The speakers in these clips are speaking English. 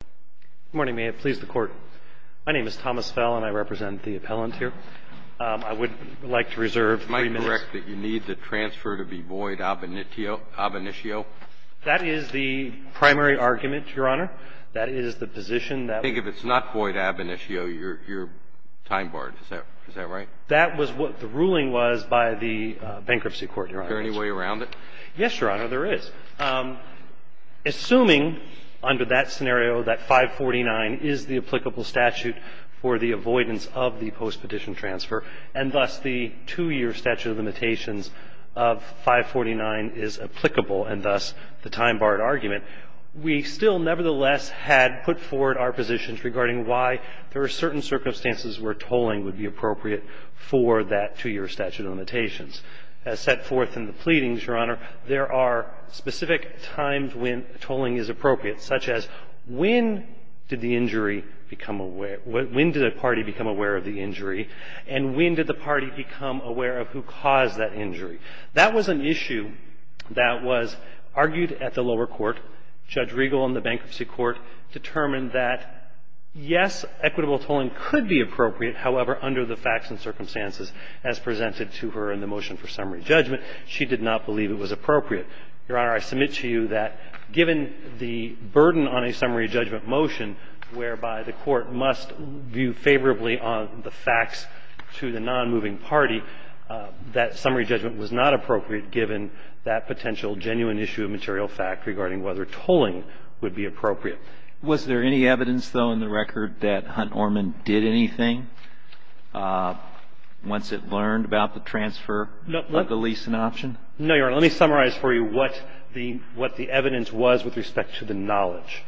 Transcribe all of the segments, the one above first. Good morning, may it please the Court. My name is Thomas Fell, and I represent the appellant here. I would like to reserve three minutes. Am I correct that you need the transfer to be void ab initio? That is the primary argument, Your Honor. That is the position that— I think if it's not void ab initio, you're time-barred. Is that right? That was what the ruling was by the bankruptcy court, Your Honor. Is there any way around it? Yes, Your Honor, there is. Assuming under that scenario that 549 is the applicable statute for the avoidance of the post-petition transfer, and thus the two-year statute of limitations of 549 is applicable, and thus the time-barred argument, we still nevertheless had put forward our positions regarding why there are certain circumstances where tolling would be appropriate for that two-year statute of limitations. As set forth in the pleadings, Your Honor, there are specific times when tolling is appropriate, such as when did the injury become aware — when did the party become aware of the injury, and when did the party become aware of who caused that injury? That was an issue that was argued at the lower court. Judge Riegel in the bankruptcy court determined that, yes, equitable tolling could be appropriate, however, under the facts and circumstances as presented to her in the motion for summary judgment, she did not believe it was appropriate. Your Honor, I submit to you that given the burden on a summary judgment motion whereby the court must view favorably on the facts to the nonmoving party, that summary judgment was not appropriate given that potential genuine issue of material fact regarding whether tolling would be appropriate. Was there any evidence, though, in the record that Hunt Orman did anything once it learned about the transfer of the lease and option? No, Your Honor. Let me summarize for you what the evidence was with respect to the knowledge.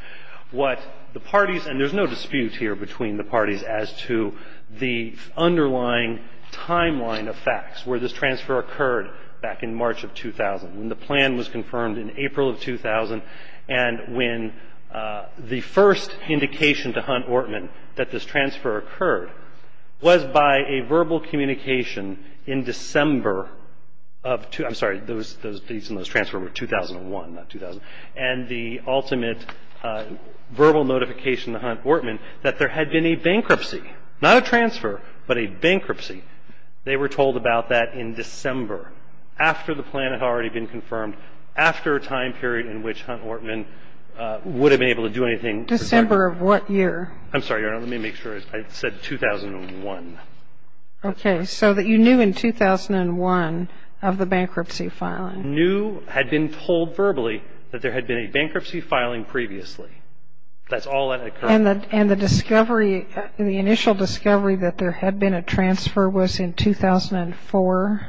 What the parties — and there's no dispute here between the parties as to the underlying timeline of facts where this transfer occurred back in March of 2000, when the plan was The first indication to Hunt Orman that this transfer occurred was by a verbal communication in December of — I'm sorry. Those fees and those transfers were 2001, not 2000. And the ultimate verbal notification to Hunt Orman that there had been a bankruptcy, not a transfer, but a bankruptcy. They were told about that in December, after the plan had already been confirmed, after a time period in which Hunt Orman would have been able to do anything. December of what year? I'm sorry, Your Honor. Let me make sure. I said 2001. Okay. So that you knew in 2001 of the bankruptcy filing. Knew, had been told verbally that there had been a bankruptcy filing previously. That's all that occurred. And the discovery, the initial discovery that there had been a transfer was in 2004?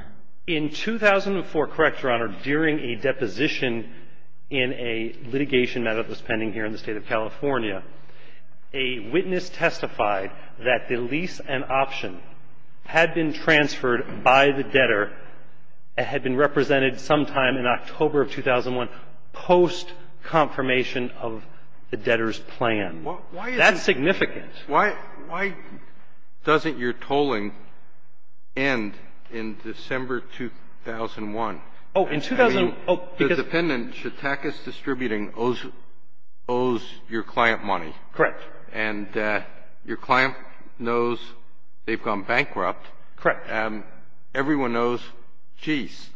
In 2004, correct, Your Honor, during a deposition in a litigation that was pending here in the State of California, a witness testified that the lease and option had been transferred by the debtor, had been represented sometime in October of 2001 post-confirmation of the debtor's plan. That's significant. Why doesn't your tolling end in December 2001? Oh, in 2001. I mean, the dependent, Chautakis Distributing, owes your client money. Correct. And your client knows they've gone bankrupt. Correct. Everyone knows, geez,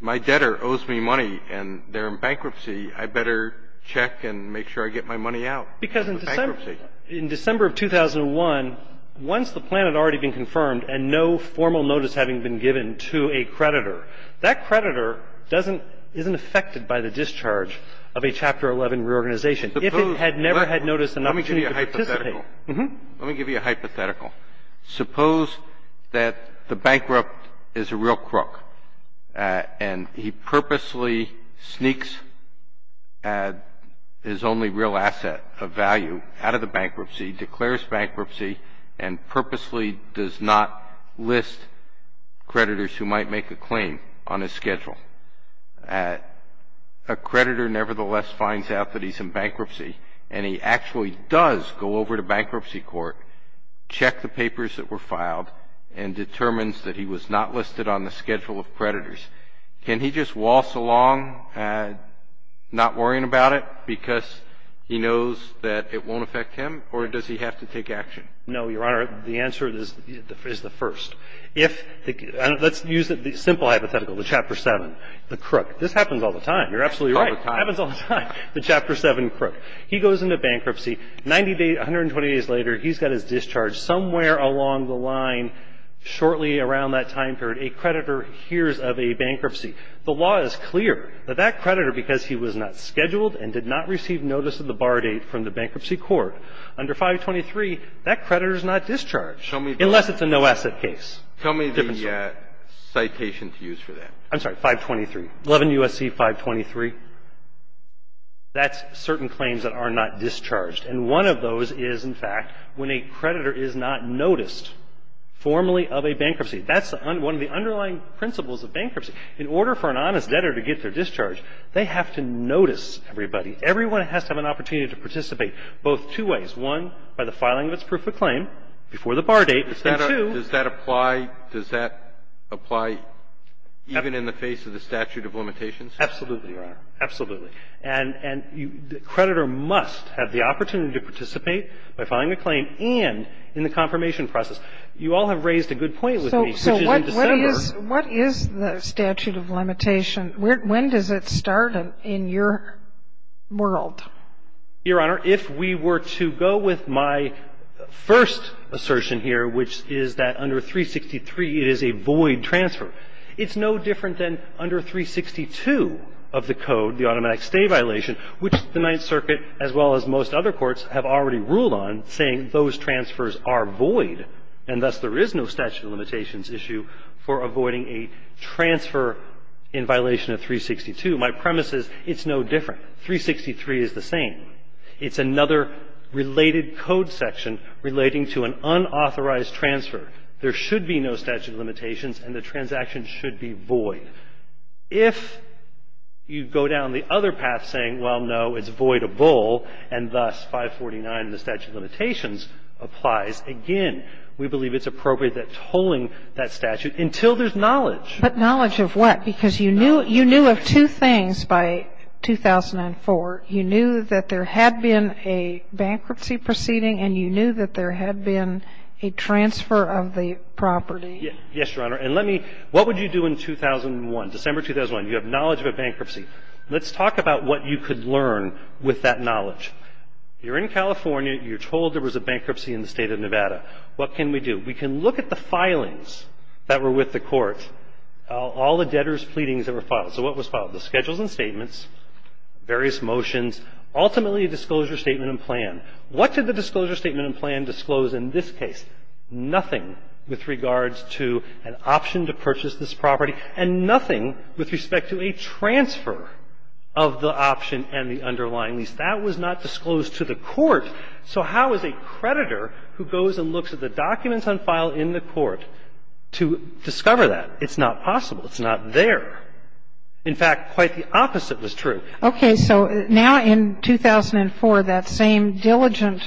my debtor owes me money, and they're in bankruptcy. I better check and make sure I get my money out. Because in December. In December of 2001, once the plan had already been confirmed and no formal notice having been given to a creditor, that creditor doesn't, isn't affected by the discharge of a Chapter 11 reorganization. If it had never had noticed an opportunity to participate. Let me give you a hypothetical. Let me give you a hypothetical. Suppose that the bankrupt is a real crook, and he purposely sneaks his only real asset of value out of the bankruptcy, declares bankruptcy, and purposely does not list creditors who might make a claim on his schedule. A creditor, nevertheless, finds out that he's in bankruptcy, and he actually does go over to bankruptcy court, check the papers that were filed, and determines that he was not listed on the schedule of creditors. Can he just waltz along, not worrying about it, because he knows that it won't affect him, or does he have to take action? No, Your Honor. The answer is the first. Let's use the simple hypothetical, the Chapter 7, the crook. This happens all the time. You're absolutely right. Happens all the time. The Chapter 7 crook. He goes into bankruptcy. 90 days, 120 days later, he's got his discharge. Somewhere along the line, shortly around that time period, a creditor hears of a bankruptcy. The law is clear that that creditor, because he was not scheduled and did not receive notice of the bar date from the bankruptcy court, under 523, that creditor is not discharged. Unless it's a no-asset case. Tell me the citation to use for that. I'm sorry, 523. 11 U.S.C. 523. That's certain claims that are not discharged. And one of those is, in fact, when a creditor is not noticed formally of a bankruptcy. That's one of the underlying principles of bankruptcy. In order for an honest debtor to get their discharge, they have to notice everybody. Everyone has to have an opportunity to participate, both two ways. One, by the filing of its proof of claim before the bar date. And two. Does that apply? Does that apply even in the face of the statute of limitations? Absolutely, Your Honor. Absolutely. And the creditor must have the opportunity to participate by filing a claim and in the confirmation process. You all have raised a good point with me, such as in December. So what is the statute of limitation? When does it start in your world? Your Honor, if we were to go with my first assertion here, which is that under 363, it is a void transfer, it's no different than under 362 of the Code, the automatic stay violation, which the Ninth Circuit, as well as most other courts, have already said is a void, and thus there is no statute of limitations issue for avoiding a transfer in violation of 362. My premise is it's no different. 363 is the same. It's another related Code section relating to an unauthorized transfer. There should be no statute of limitations, and the transaction should be void. If you go down the other path saying, well, no, it's voidable, and thus 549 in the statute of limitations, then we believe it's appropriate that tolling that statute until there's knowledge. But knowledge of what? Because you knew of two things by 2004. You knew that there had been a bankruptcy proceeding and you knew that there had been a transfer of the property. Yes, Your Honor. And let me – what would you do in 2001, December 2001? You have knowledge of a bankruptcy. Let's talk about what you could learn with that knowledge. You're in California. You're told there was a bankruptcy in the State of Nevada. What can we do? We can look at the filings that were with the court, all the debtors' pleadings that were filed. So what was filed? The schedules and statements, various motions, ultimately a disclosure statement and plan. What did the disclosure statement and plan disclose in this case? Nothing with regards to an option to purchase this property and nothing with respect to a transfer of the option and the underlying lease. That was not disclosed to the court. So how is a creditor who goes and looks at the documents on file in the court to discover that? It's not possible. It's not there. In fact, quite the opposite was true. Okay. So now in 2004, that same diligent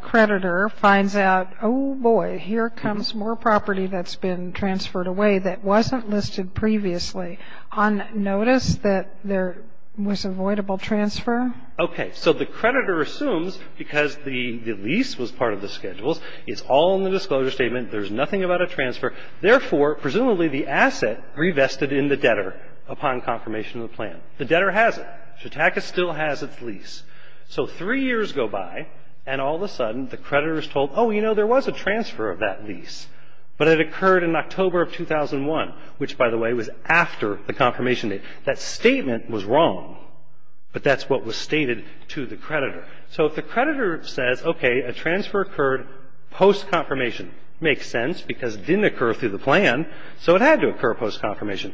creditor finds out, oh, boy, here comes more property that's been transferred away that wasn't listed previously. On notice that there was avoidable transfer? Okay. So the creditor assumes because the lease was part of the schedules, it's all in the disclosure statement. There's nothing about a transfer. Therefore, presumably, the asset revested in the debtor upon confirmation of the plan. The debtor has it. Chautauqua still has its lease. So three years go by, and all of a sudden, the creditor is told, oh, you know, there was a transfer of that lease. But it occurred in October of 2001, which, by the way, was after the confirmation date. That statement was wrong, but that's what was stated to the creditor. So if the creditor says, okay, a transfer occurred post-confirmation, makes sense because it didn't occur through the plan, so it had to occur post-confirmation,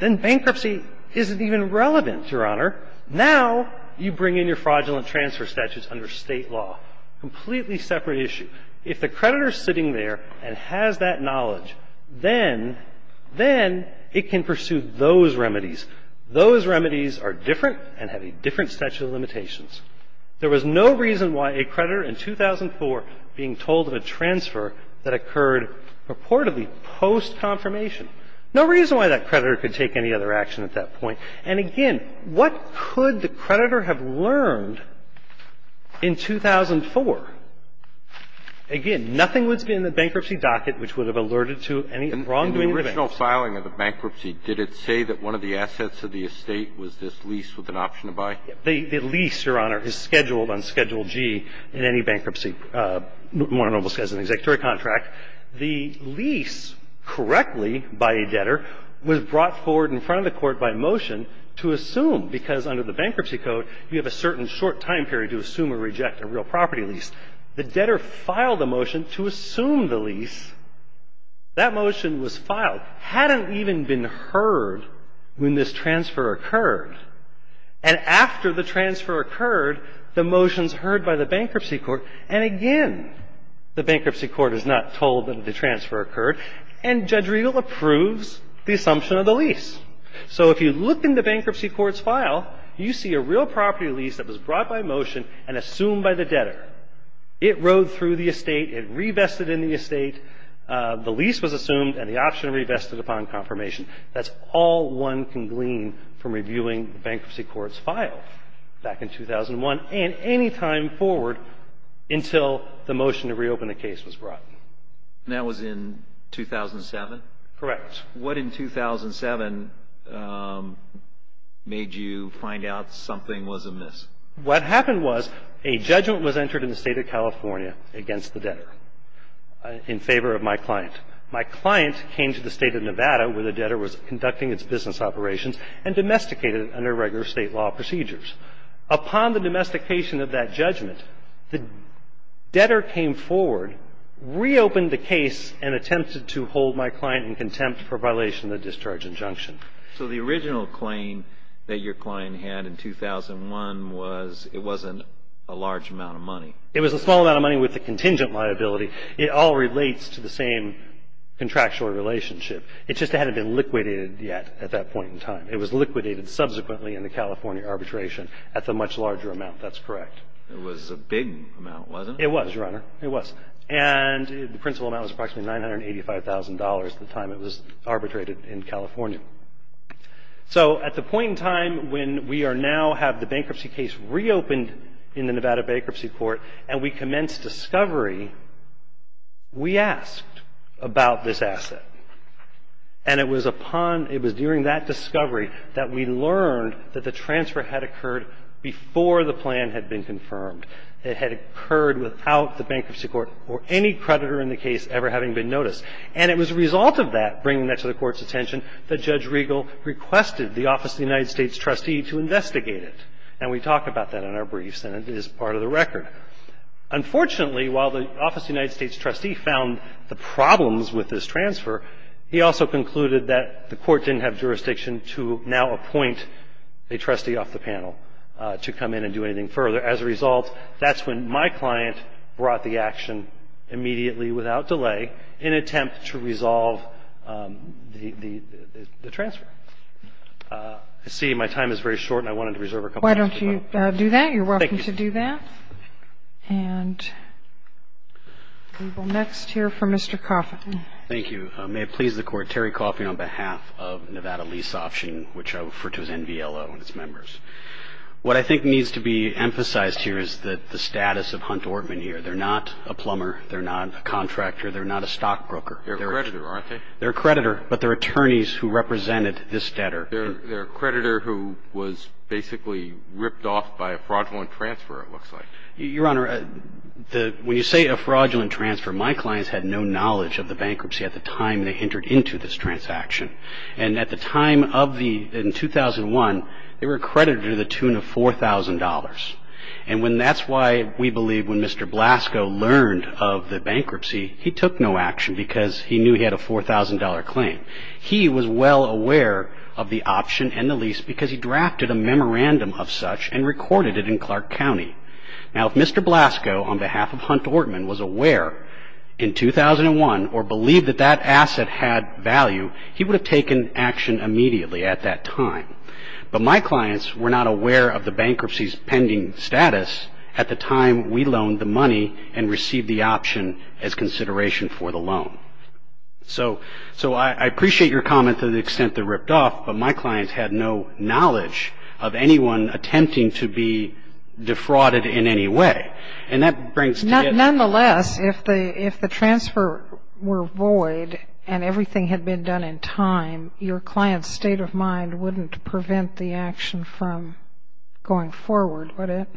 then bankruptcy isn't even relevant, Your Honor. Now you bring in your fraudulent transfer statutes under State law, completely separate issue. If the creditor is sitting there and has that knowledge, then it can pursue those remedies. Those remedies are different and have a different statute of limitations. There was no reason why a creditor in 2004 being told of a transfer that occurred purportedly post-confirmation. No reason why that creditor could take any other action at that point. And, again, what could the creditor have learned in 2004? Again, nothing would have been in the bankruptcy docket which would have alerted to any wrongdoing of the bank. And in the original filing of the bankruptcy, did it say that one of the assets of the estate was this lease with an option to buy? The lease, Your Honor, is scheduled on Schedule G in any bankruptcy, more or less as an executory contract. The lease, correctly, by a debtor was brought forward in front of the Court by motion to assume, because under the Bankruptcy Code, you have a certain short time period to assume or reject a real property lease. The debtor filed a motion to assume the lease. That motion was filed. Hadn't even been heard when this transfer occurred. And after the transfer occurred, the motion's heard by the Bankruptcy Court. And, again, the Bankruptcy Court is not told that the transfer occurred. And Judge Riegel approves the assumption of the lease. So if you look in the Bankruptcy Court's file, you see a real property lease that was brought by motion and assumed by the debtor. It rode through the estate. It revested in the estate. The lease was assumed and the option revested upon confirmation. That's all one can glean from reviewing the Bankruptcy Court's file back in 2001 and any time forward until the motion to reopen the case was brought. And that was in 2007? Correct. What in 2007 made you find out something was amiss? What happened was a judgment was entered in the State of California against the debtor in favor of my client. My client came to the State of Nevada where the debtor was conducting its business operations and domesticated under regular state law procedures. Upon the domestication of that judgment, the debtor came forward, reopened the case and attempted to hold my client in contempt for violation of the discharge injunction. So the original claim that your client had in 2001 was it wasn't a large amount of money? It was a small amount of money with a contingent liability. It all relates to the same contractual relationship. It just hadn't been liquidated yet at that point in time. It was liquidated subsequently in the California arbitration at the much larger amount. That's correct. It was a big amount, wasn't it? It was, Your Honor. It was. And the principal amount was approximately $985,000 at the time it was arbitrated in California. So at the point in time when we are now have the bankruptcy case reopened in the Nevada Bankruptcy Court and we commenced discovery, we asked about this asset. And it was upon, it was during that discovery that we learned that the transfer had occurred before the plan had been confirmed. It had occurred without the bankruptcy court or any creditor in the case ever having been noticed. And it was a result of that, bringing that to the Court's attention, that Judge Riegel requested the office of the United States trustee to investigate it. And we talk about that in our briefs and it is part of the record. Unfortunately, while the office of the United States trustee found the problems with this transfer, he also concluded that the court didn't have jurisdiction to now appoint a trustee off the panel to come in and do anything further. As a result, that's when my client brought the action immediately without delay in an attempt to resolve the transfer. I see my time is very short and I wanted to reserve a couple of minutes. Why don't you do that? Thank you. You're welcome to do that. And we will next hear from Mr. Coffin. Thank you. May it please the Court, Terry Coffin on behalf of Nevada Lease Option, which I refer to as NVLO and its members. What I think needs to be emphasized here is the status of Hunt Ortman here. They're not a plumber. They're not a contractor. They're not a stockbroker. They're a creditor, aren't they? They're a creditor, but they're attorneys who represented this debtor. They're a creditor who was basically ripped off by a fraudulent transfer, it looks like. Your Honor, when you say a fraudulent transfer, my clients had no knowledge of the bankruptcy at the time they entered into this transaction. And at the time of the 2001, they were credited to the tune of $4,000. And that's why we believe when Mr. Blasco learned of the bankruptcy, he took no action because he knew he had a $4,000 claim. He was well aware of the option and the lease because he drafted a memorandum of such and recorded it in Clark County. Now, if Mr. Blasco, on behalf of Hunt Ortman, was aware in 2001 or believed that that asset had value, he would have taken action immediately at that time. But my clients were not aware of the bankruptcy's pending status at the time we loaned the money and received the option as consideration for the loan. So I appreciate your comment to the extent they're ripped off, but my clients had no knowledge of anyone attempting to be defrauded in any way. Nonetheless, if the transfer were void and everything had been done in time, your client's state of mind wouldn't prevent the action from going forward, would it?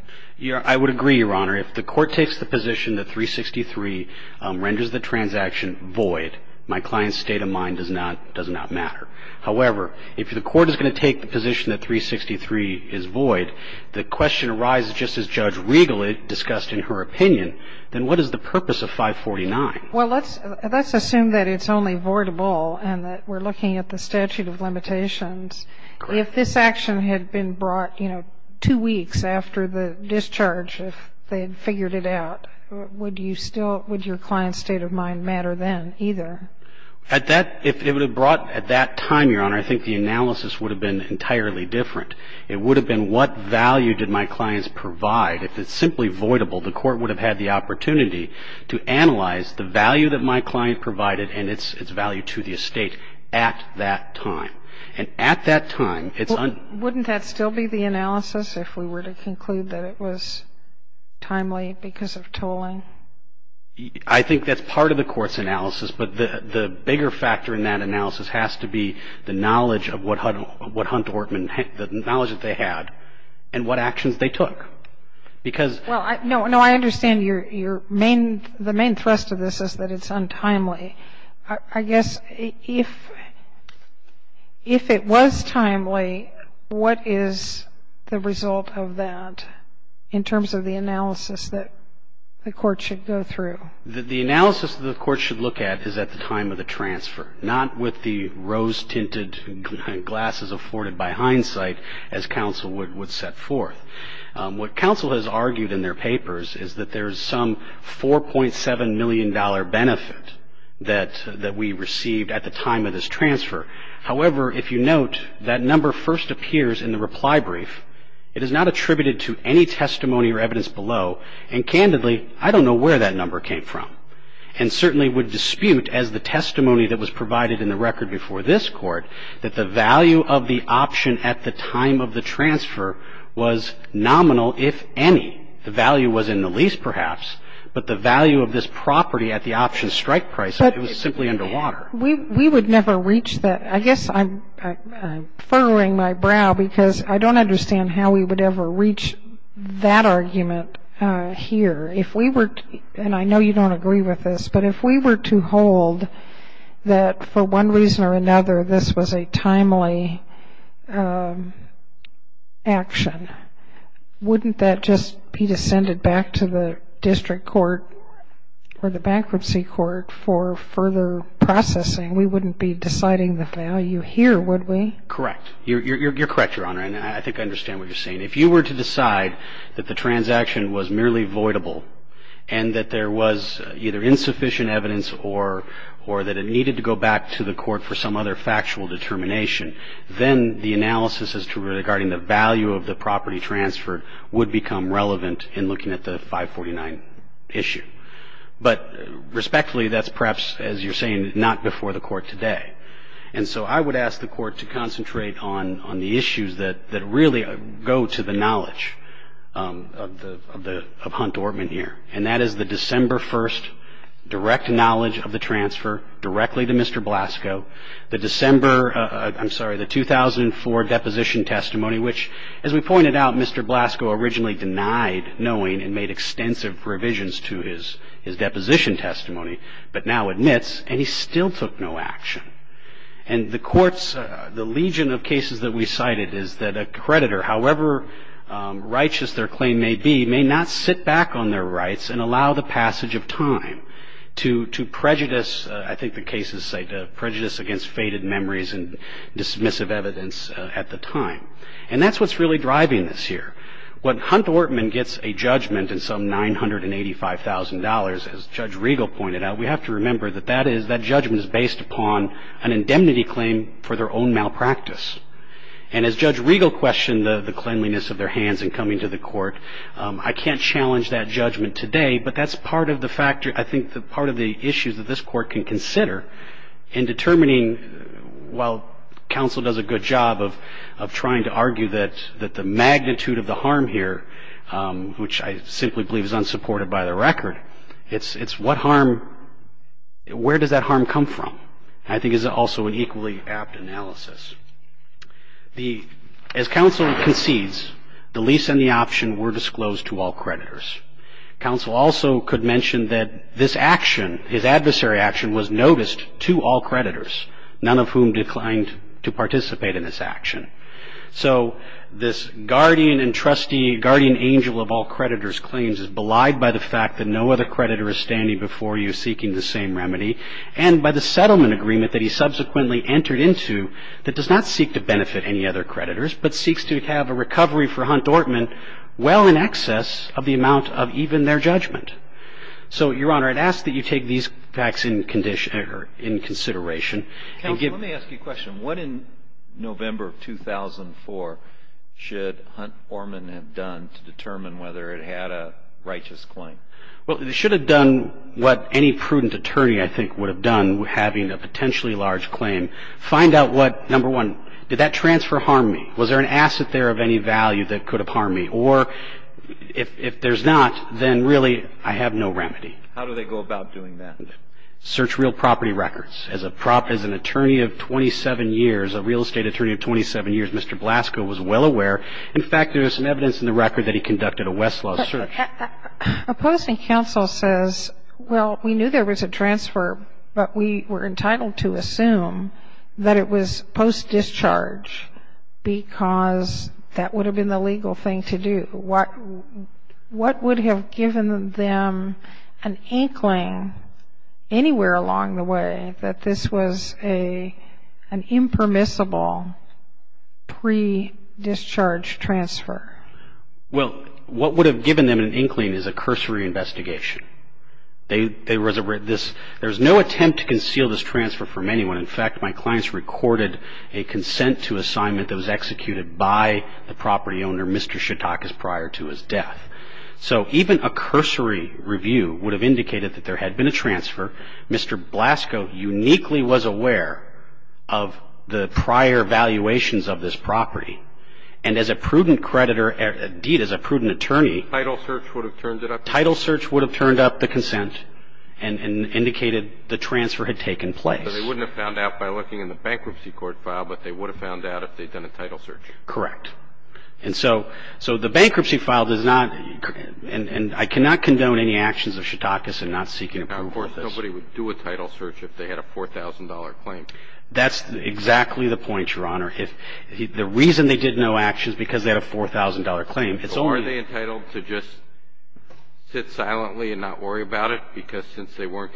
I would agree, Your Honor. If the court takes the position that 363 renders the transaction void, my client's state of mind does not matter. However, if the court is going to take the position that 363 is void, the question arises just as Judge Regal discussed in her opinion, then what is the purpose of 549? Well, let's assume that it's only voidable and that we're looking at the statute of limitations. If this action had been brought, you know, two weeks after the discharge, if they had figured it out, would you still – would your client's state of mind matter then either? At that – if it were brought at that time, Your Honor, I think the analysis would have been entirely different. It would have been what value did my clients provide. If it's simply voidable, the court would have had the opportunity to analyze the value that my client provided and its value to the estate at that time. And at that time, it's – Wouldn't that still be the analysis if we were to conclude that it was timely because of tolling? I think that's part of the court's analysis, but the bigger factor in that analysis has to be the knowledge of what Hunt Ortman – the knowledge that they had and what actions they took because – Well, no, I understand your main – the main thrust of this is that it's untimely. I guess if it was timely, what is the result of that in terms of the analysis that the court should go through? The analysis that the court should look at is at the time of the transfer, not with the rose-tinted glasses afforded by hindsight as counsel would set forth. What counsel has argued in their papers is that there is some $4.7 million benefit that we received at the time of this transfer. However, if you note, that number first appears in the reply brief. It is not attributed to any testimony or evidence below. And, candidly, I don't know where that number came from, and certainly would dispute as the testimony that was provided in the record before this court that the value of the option at the time of the transfer was nominal, if any. The value was in the lease, perhaps, but the value of this property at the option strike price, it was simply underwater. We would never reach that. I guess I'm furrowing my brow because I don't understand how we would ever reach that argument here. If we were to, and I know you don't agree with this, but if we were to hold that for one reason or another this was a timely action, wouldn't that just be descended back to the district court or the bankruptcy court for further processing? We wouldn't be deciding the value here, would we? Correct. You're correct, Your Honor, and I think I understand what you're saying. If you were to decide that the transaction was merely voidable and that there was either insufficient evidence or that it needed to go back to the court for some other factual determination, then the analysis as to regarding the value of the property transferred would become relevant in looking at the 549 issue. But respectfully, that's perhaps, as you're saying, not before the court today. And so I would ask the court to concentrate on the issues that really go to the knowledge of Hunt Dortman here, and that is the December 1st direct knowledge of the transfer directly to Mr. Blasco, the 2004 deposition testimony which, as we pointed out, Mr. Blasco originally denied knowing and made extensive revisions to his deposition testimony, but now admits and he still took no action. And the court's, the legion of cases that we cited is that a creditor, however righteous their claim may be, may not sit back on their rights and allow the passage of time to prejudice, I think the case is cited, prejudice against faded memories and dismissive evidence at the time. And that's what's really driving this here. When Hunt Dortman gets a judgment in some $985,000, as Judge Riegel pointed out, we have to remember that that is, that judgment is based upon an indemnity claim for their own malpractice. And as Judge Riegel questioned the cleanliness of their hands in coming to the court, I can't challenge that judgment today, but that's part of the factor, I think part of the issues that this Court can consider in determining, while counsel does a good job of trying to argue that the magnitude of the harm here, which I simply believe is unsupported by the record, it's what harm, where does that harm come from, I think is also an equally apt analysis. As counsel concedes, the lease and the option were disclosed to all creditors. Counsel also could mention that this action, his adversary action, was noticed to all creditors, none of whom declined to participate in this action. So this guardian and trustee, guardian angel of all creditors' claims is belied by the fact that no other creditor is standing before you seeking the same remedy, and by the settlement agreement that he subsequently entered into that does not seek to benefit any other creditors, but seeks to have a recovery for Hunt Dortman well in excess of the amount of even their judgment. So, Your Honor, I'd ask that you take these facts in consideration. Counsel, let me ask you a question. What in November of 2004 should Hunt Dortman have done to determine whether it had a righteous claim? Well, it should have done what any prudent attorney, I think, would have done, having a potentially large claim. Find out what, number one, did that transfer harm me? Was there an asset there of any value that could have harmed me? Or if there's not, then really I have no remedy. How do they go about doing that? Search real property records. As an attorney of 27 years, a real estate attorney of 27 years, Mr. Blasco was well aware. In fact, there's some evidence in the record that he conducted a Westlaw search. Opposing counsel says, well, we knew there was a transfer, but we were entitled to assume that it was post-discharge because that would have been the legal thing to do. What would have given them an inkling anywhere along the way that this was an impermissible pre-discharge transfer? Well, what would have given them an inkling is a cursory investigation. There was no attempt to conceal this transfer from anyone. In fact, my clients recorded a consent to assignment that was executed by the property owner, Mr. Shatakis, prior to his death. So even a cursory review would have indicated that there had been a transfer. Mr. Blasco uniquely was aware of the prior valuations of this property. And as a prudent creditor, indeed, as a prudent attorney. Title search would have turned it up? Title search would have turned up the consent and indicated the transfer had taken place. So they wouldn't have found out by looking in the bankruptcy court file, but they would have found out if they'd done a title search. Correct. And so the bankruptcy file does not – and I cannot condone any actions of Shatakis in not seeking approval for this. Now, of course, nobody would do a title search if they had a $4,000 claim. That's exactly the point, Your Honor. The reason they did no action is because they had a $4,000 claim. So are they entitled to just sit silently and not worry about it? Because since they weren't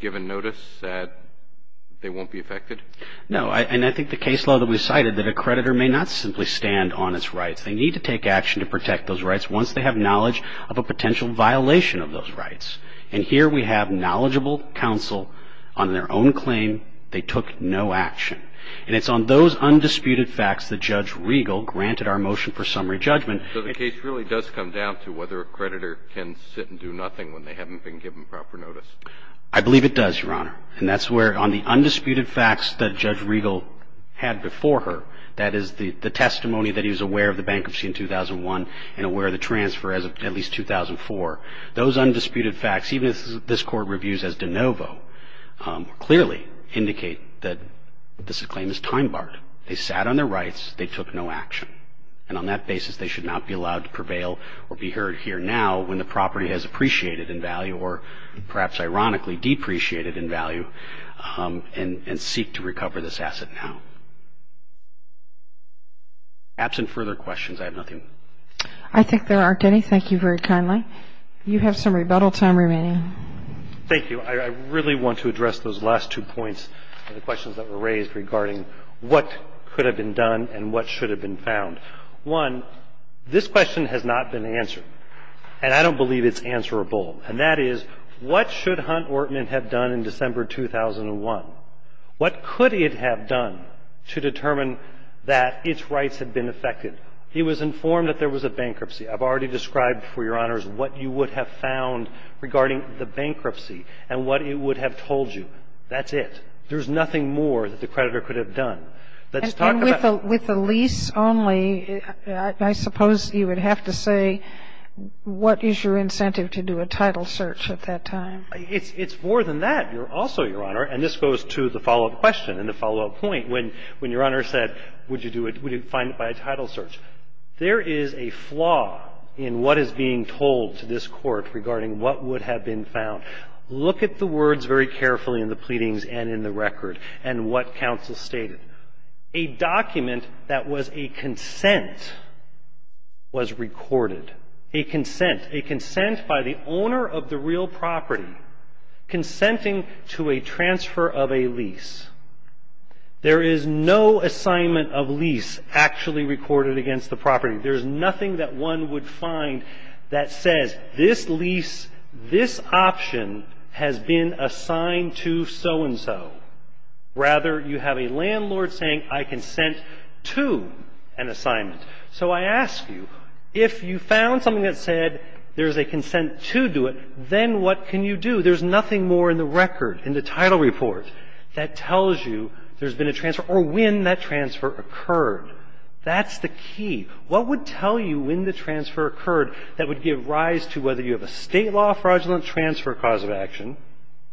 given notice, they won't be affected? No. And I think the case law that we cited, that a creditor may not simply stand on its rights. They need to take action to protect those rights once they have knowledge of a potential violation of those rights. And here we have knowledgeable counsel on their own claim. They took no action. And it's on those undisputed facts that Judge Riegel granted our motion for summary judgment. So the case really does come down to whether a creditor can sit and do nothing when they haven't been given proper notice? I believe it does, Your Honor. And that's where – on the undisputed facts that Judge Riegel had before her, that is, the testimony that he was aware of the bankruptcy in 2001 and aware of the transfer as of at least 2004. Those undisputed facts, even as this Court reviews as de novo, clearly indicate that this claim is time-barred. They sat on their rights. They took no action. And on that basis, they should not be allowed to prevail or be heard here now when the property has appreciated in value or perhaps ironically depreciated in value and seek to recover this asset now. Absent further questions, I have nothing. I think there are. Thank you, Mr. Denny. Thank you very kindly. You have some rebuttal time remaining. Thank you. I really want to address those last two points and the questions that were raised regarding what could have been done and what should have been found. One, this question has not been answered. And I don't believe it's answerable. And that is, what should Hunt Orton have done in December 2001? What could it have done to determine that its rights had been affected? He was informed that there was a bankruptcy. I've already described for Your Honors what you would have found regarding the bankruptcy and what it would have told you. That's it. There's nothing more that the creditor could have done. Let's talk about that. And with the lease only, I suppose you would have to say, what is your incentive to do a title search at that time? It's more than that also, Your Honor. And this goes to the follow-up question and the follow-up point. When Your Honor said, would you find it by a title search, there is a flaw in what is being told to this Court regarding what would have been found. Look at the words very carefully in the pleadings and in the record and what counsel stated. A document that was a consent was recorded. A consent. A consent by the owner of the real property consenting to a transfer of a lease. There is no assignment of lease actually recorded against the property. There is nothing that one would find that says this lease, this option has been assigned to so-and-so. Rather, you have a landlord saying, I consent to an assignment. So I ask you, if you found something that said there's a consent to do it, then what can you do? There's nothing more in the record, in the title report, that tells you there's been a transfer or when that transfer occurred. That's the key. What would tell you when the transfer occurred that would give rise to whether you have a State law fraudulent transfer cause of action,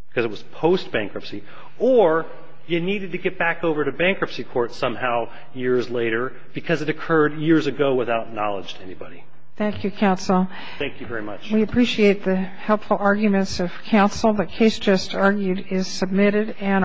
because it was post-bankruptcy, or you needed to get back over to bankruptcy court somehow years later because it occurred years ago without knowledge to anybody? Thank you, counsel. Thank you very much. We appreciate the helpful arguments of counsel. The case just argued is submitted.